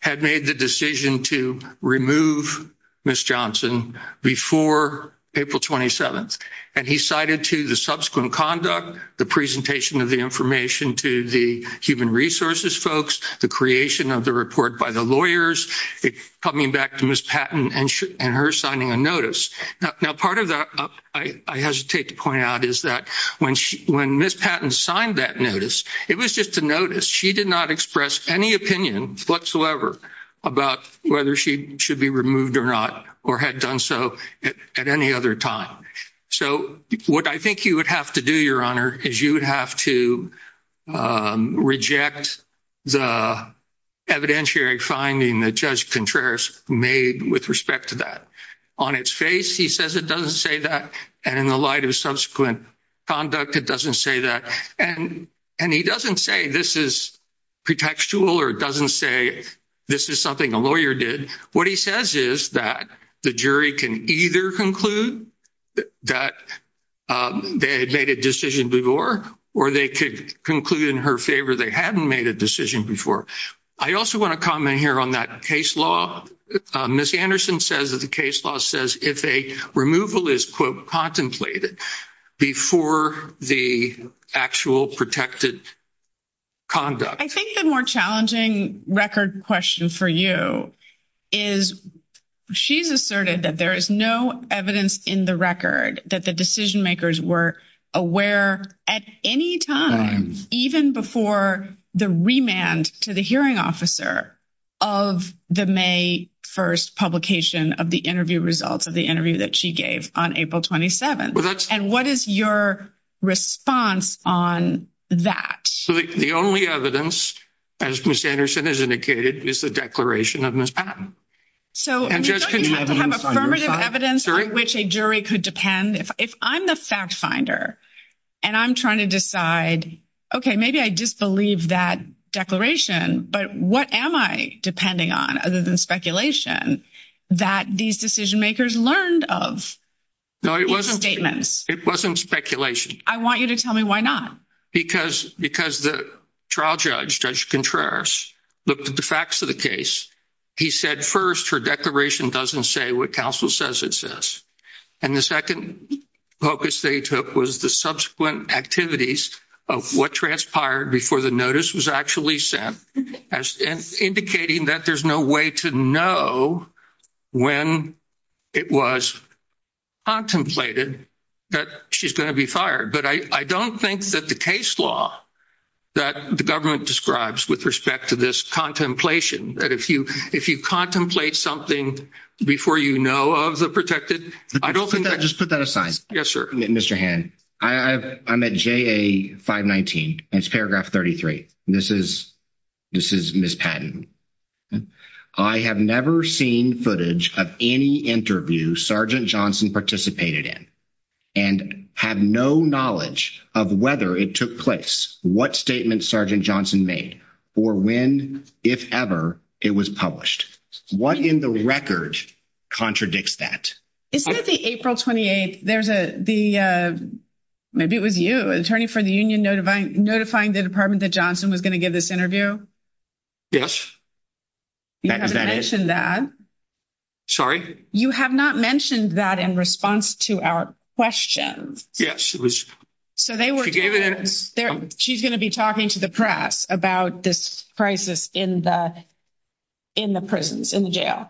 had made the decision to remove Ms. Johnson before April 27th. And he cited to the subsequent conduct, the presentation of the information to the human resources folks, the creation of the report by the lawyers, coming back to Ms. Patton and her signing a notice. Now, part of that I hesitate to point out is that when Ms. Patton signed that notice, it was just a notice. She did not express any opinion whatsoever about whether she should be removed or not, or had done so at any other time. So what I think you would have to do, Your Honor, is you would have to reject the evidentiary finding that Judge Contreras made with respect to that. On its face, he says it doesn't say that. And in the light of subsequent conduct, it doesn't say that. And he doesn't say this is pretextual or doesn't say this is something a lawyer did. What he says is that the jury can either conclude that they had made a decision before, or they could conclude in her favor they hadn't made a decision before. I also want to comment here on that case law. Ms. Anderson says that the case law says if a removal is, quote, contemplated before the actual protected conduct. I think the more challenging record question for you is she's asserted that there is no evidence in the record that the decision makers were aware at any time, even before the remand to the hearing officer of the May 1st publication of the interview results of the interview that she gave on April 27th. And what is your response on that? The only evidence, as Ms. Anderson has indicated, is the declaration of Ms. Patton. So you don't have to have affirmative evidence on which a jury could depend. If I'm the fact finder and I'm trying to decide, okay, maybe I disbelieve that declaration, but what am I depending on other than speculation that these decision makers learned of? No, it wasn't statements. It wasn't speculation. I want you to tell me why not. Because the trial judge, Judge Contreras, looked at the facts of the case. He said, first, her declaration doesn't say what counsel says it says. And the second focus they took was the subsequent activities of what transpired before the notice was actually sent, indicating that there's no way to know when it was contemplated that she's going to be fired. But I don't think that the case law that the government describes with respect to this contemplation, that if you contemplate something before you know of the protected, I don't think that... Just put that aside. Yes, sir. Mr. Hand, I'm at JA 519. It's paragraph 33. This is Ms. Patton. I have never seen footage of any interview Sergeant Johnson participated in and have no knowledge of whether it took place, what statement Sergeant Johnson made, or when, if ever, it was published. What in the record contradicts that? Isn't it the April 28th? There's a... Maybe it was you, attorney for the union, notifying the department that Johnson was going to give this interview? Yes. You haven't mentioned that. Sorry? You have not mentioned that in response to our questions. Yes, it was... She's going to be talking to the press about this crisis in the prisons, in the jail.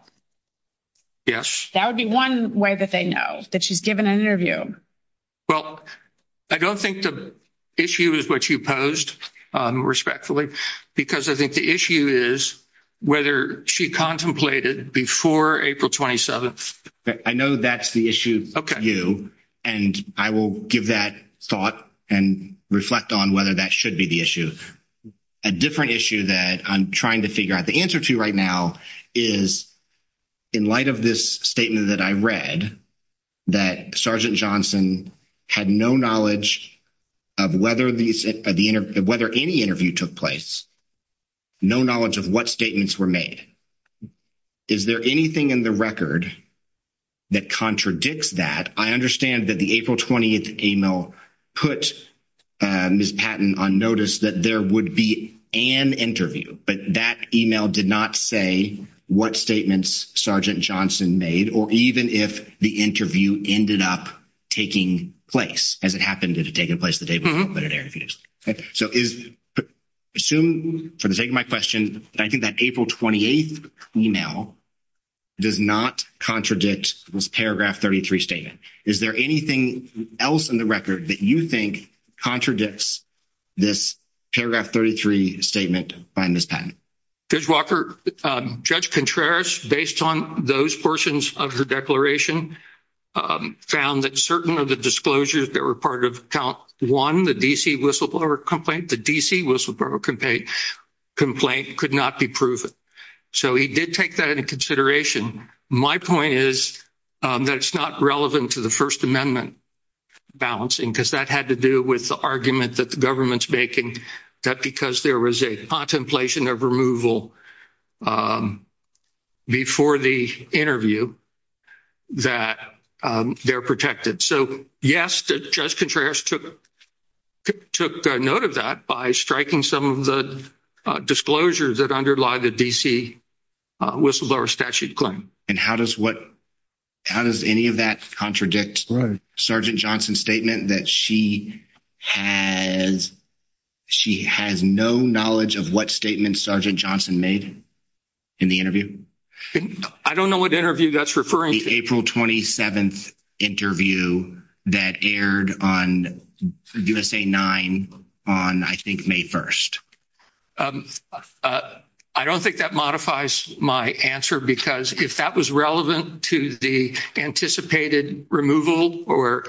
Yes. That would be one way that they know, that she's given an interview. Well, I don't think the issue is what you posed, respectfully, because I think the issue is whether she contemplated before April 27th. I know that's the issue for you, and I will give that thought and reflect on whether that should be the issue. A different issue that I'm trying to figure out the answer to right now is, in light of this statement that I read, that Sergeant Johnson had no knowledge of whether any interview took place, no knowledge of what statements were made. Is there anything in the record that contradicts that? I understand that the April 20th email put Ms. Patton on notice that there would be an interview, but that email did not say what statements Sergeant Johnson made, or even if the interview ended up taking place. Has it happened? Did it take place the day before? Mm-hmm. I think that April 28th email does not contradict this Paragraph 33 statement. Is there anything else in the record that you think contradicts this Paragraph 33 statement by Ms. Patton? Judge Walker, Judge Contreras, based on those portions of her declaration, found that certain of the disclosures that were part of Count 1, the D.C. Wilson Borough complaint, could not be proven. So he did take that into consideration. My point is that it's not relevant to the First Amendment balancing, because that had to do with the argument that the government's making that because there was a contemplation of removal before the interview, that they're protected. So, yes, Judge Contreras took note of that by striking some of the disclosures that underlie the D.C. Wilson Borough statute claim. And how does any of that contradict Sergeant Johnson's statement that she has no knowledge of what statements Sergeant Johnson made in the interview? I don't know what interview that's referring to. The April 27th interview that aired on USA 9 on, I think, May 1st. I don't think that modifies my answer, because if that was relevant to the anticipated removal or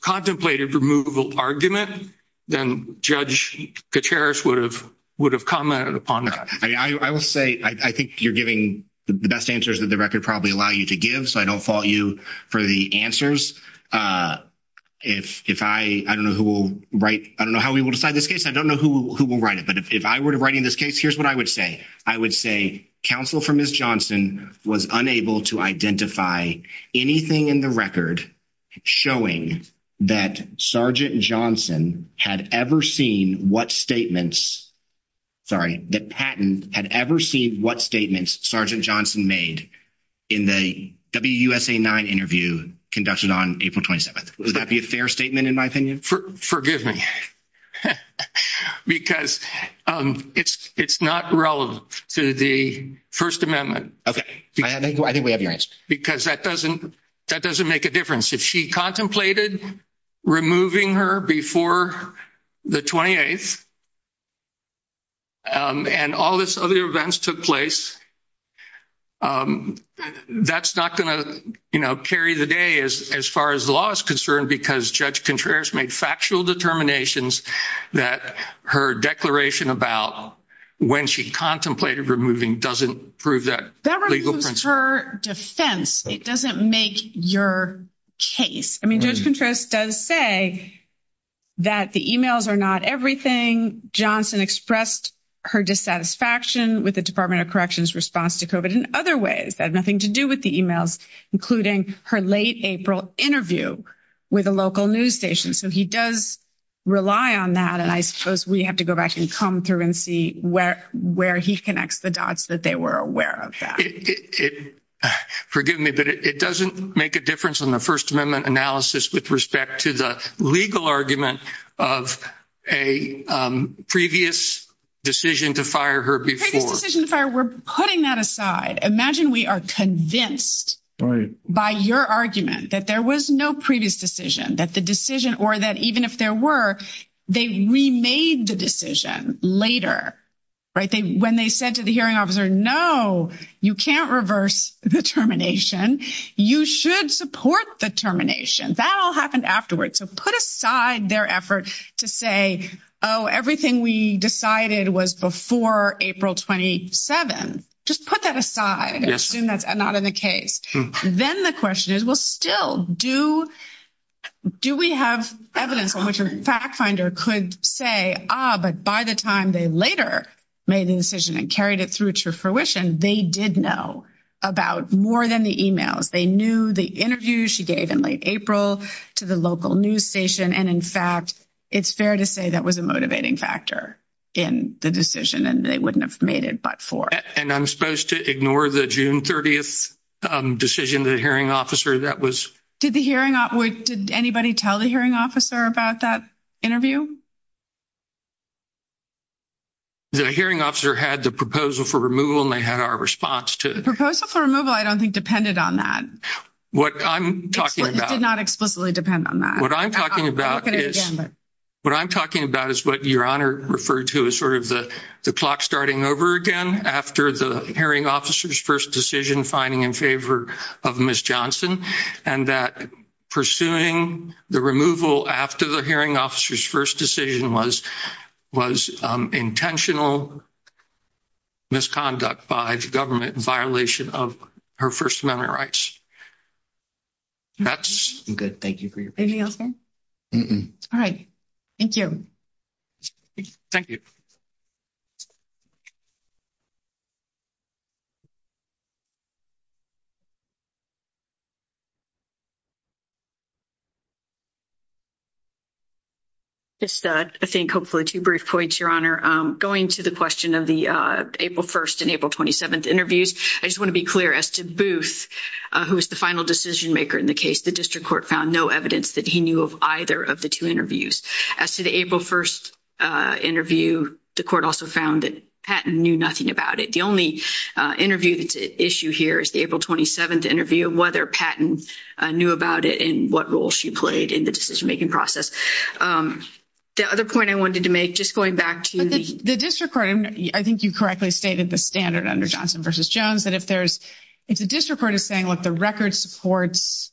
contemplated removal argument, then Judge Contreras would have commented upon that. I will say, I think you're giving the best answers that the record probably allow you to give, so I don't fault you for the answers. If I, I don't know who will write, I don't know how we will decide this case. I don't know who will write it. But if I were to write in this case, here's what I would say. I would say counsel for Ms. Johnson was unable to identify anything in the record showing that Sergeant Johnson had ever seen what statements, sorry, that Patton had ever seen what statements Sergeant Johnson made in the WUSA 9 interview conducted on April 27th. Would that be a fair statement in my opinion? Forgive me. Because it's not relevant to the First Amendment. Okay, I think we have your answer. Because that doesn't, that doesn't make a difference. If she contemplated removing her before the 28th, and all this other events took place, that's not going to, you know, carry the day as far as the law is concerned, because Judge Contreras made factual determinations that her declaration about when she contemplated removing doesn't prove that. That removes her defense. It doesn't make your case. I mean, Judge Contreras does say that the emails are not everything. Johnson expressed her dissatisfaction with the Department of Corrections response to COVID in other ways that have nothing to do with the emails, including her late April interview with a local news station. So he does rely on that. And I suppose we have to go back and come through and see where he connects the dots that they were aware of that. It, forgive me, but it doesn't make a difference on the First Amendment analysis with respect to the legal argument of a previous decision to fire her before. Previous decision to fire her, we're putting that aside. Imagine we are convinced by your argument that there was no previous decision, that the decision, or that even if there were, they remade the decision later, right? When they said to the hearing officer, no, you can't reverse the termination. You should support the termination. That all happened afterwards. So put aside their effort to say, oh, everything we decided was before April 27. Just put that aside and assume that's not in the case. Then the question is, well, still, do we have evidence on which a fact finder could say, ah, but by the time they later made the decision and carried it through to fruition, they did know about more than the emails. They knew the interview she gave in late April to the local news station. And in fact, it's fair to say that was a motivating factor in the decision, and they wouldn't have made it but for. And I'm supposed to ignore the June 30th decision, the hearing officer that was. Did the hearing, did anybody tell the hearing officer about that interview? The hearing officer had the proposal for removal and they had our response to the proposal for removal, I don't think depended on that. What I'm talking about did not explicitly depend on that. What I'm talking about is what I'm talking about is what your honor referred to as sort of the clock starting over again after the hearing officer's first decision finding in favor of Miss Johnson and that pursuing the removal after the hearing officer's first decision was was intentional misconduct by the government in violation of her First Amendment rights. That's good. Thank you for your anything else. All right. Thank you. Thank you. I think hopefully two brief points, your honor going to the question of the April 1st and April 27th interviews. I just want to be clear as to Booth, who is the final decision maker in the case. The district court found no evidence that he knew of either of the two interviews. As to the April 1st interview, the court also found that Patton knew nothing about it. The only interview that's at issue here is the April 27th interview, whether Patton knew about it and what role she played in the decision making process. The other point I wanted to make just going back to the district court, I think you correctly stated the standard under Johnson versus Jones that if there's if the district court is saying the record supports,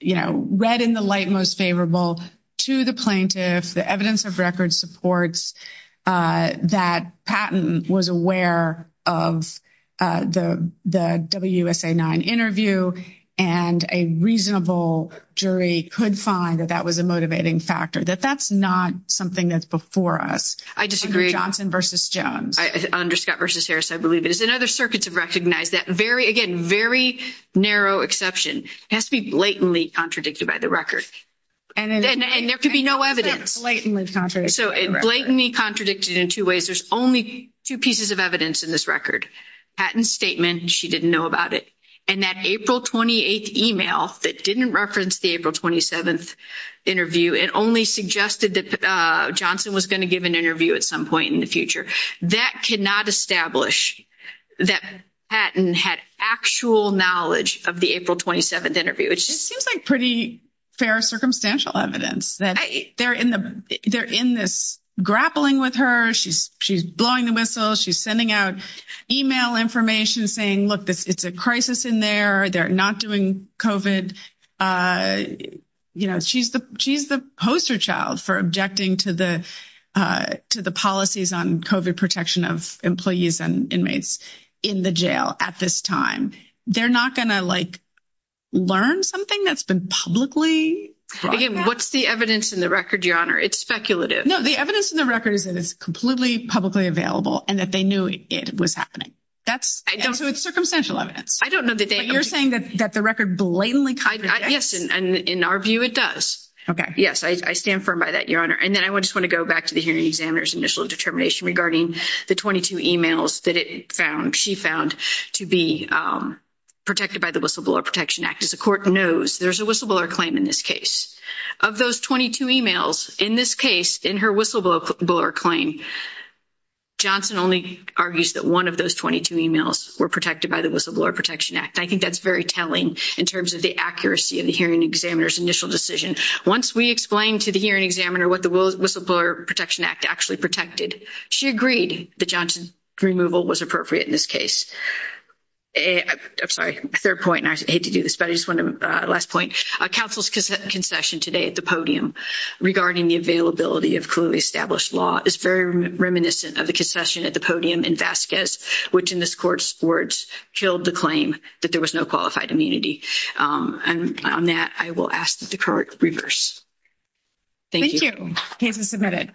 you know, read in the light most favorable to the plaintiff, the evidence of record supports that Patton was aware of the WSA-9 interview and a reasonable jury could find that that was a motivating factor, that that's not something that's before us. I disagree. Johnson versus Jones. Under Scott versus Harris, I believe it is. Other circuits have recognized that very, again, very narrow exception. It has to be blatantly contradicted by the record. And there could be no evidence. So blatantly contradicted in two ways. There's only two pieces of evidence in this record. Patton's statement, she didn't know about it. And that April 28th email that didn't reference the April 27th interview and only suggested that Johnson was going to give an interview at some point in the future. That cannot establish that Patton had actual knowledge of the April 27th interview. It seems like pretty fair circumstantial evidence that they're in the they're in this grappling with her. She's she's blowing the whistle. She's sending out email information saying, look, it's a crisis in there. They're not doing COVID. And, you know, she's the she's the poster child for objecting to the to the policies on COVID protection of employees and inmates in the jail at this time. They're not going to, like, learn something that's been publicly. What's the evidence in the record? Your Honor, it's speculative. No, the evidence in the record is that it's completely publicly available and that they knew it was happening. That's so it's circumstantial evidence. I don't know that you're saying that the record blatantly. Yes, and in our view, it does. OK, yes, I stand firm by that, Your Honor. And then I just want to go back to the hearing examiner's initial determination regarding the 22 emails that it found. She found to be protected by the whistleblower Protection Act. As the court knows, there's a whistleblower claim in this case of those 22 emails in this case, in her whistleblower claim, Johnson only argues that one of those 22 emails were protected by the whistleblower Protection Act. I think that's very telling in terms of the accuracy of the hearing examiner's initial decision. Once we explained to the hearing examiner what the whistleblower Protection Act actually protected, she agreed that Johnson's removal was appropriate in this case. I'm sorry, third point, and I hate to do this, but I just want to, last point, counsel's concession today at the podium regarding the availability of clearly established law is reminiscent of the concession at the podium in Vasquez, which in this court's words, killed the claim that there was no qualified immunity. And on that, I will ask that the court reverse. Thank you. Case is submitted.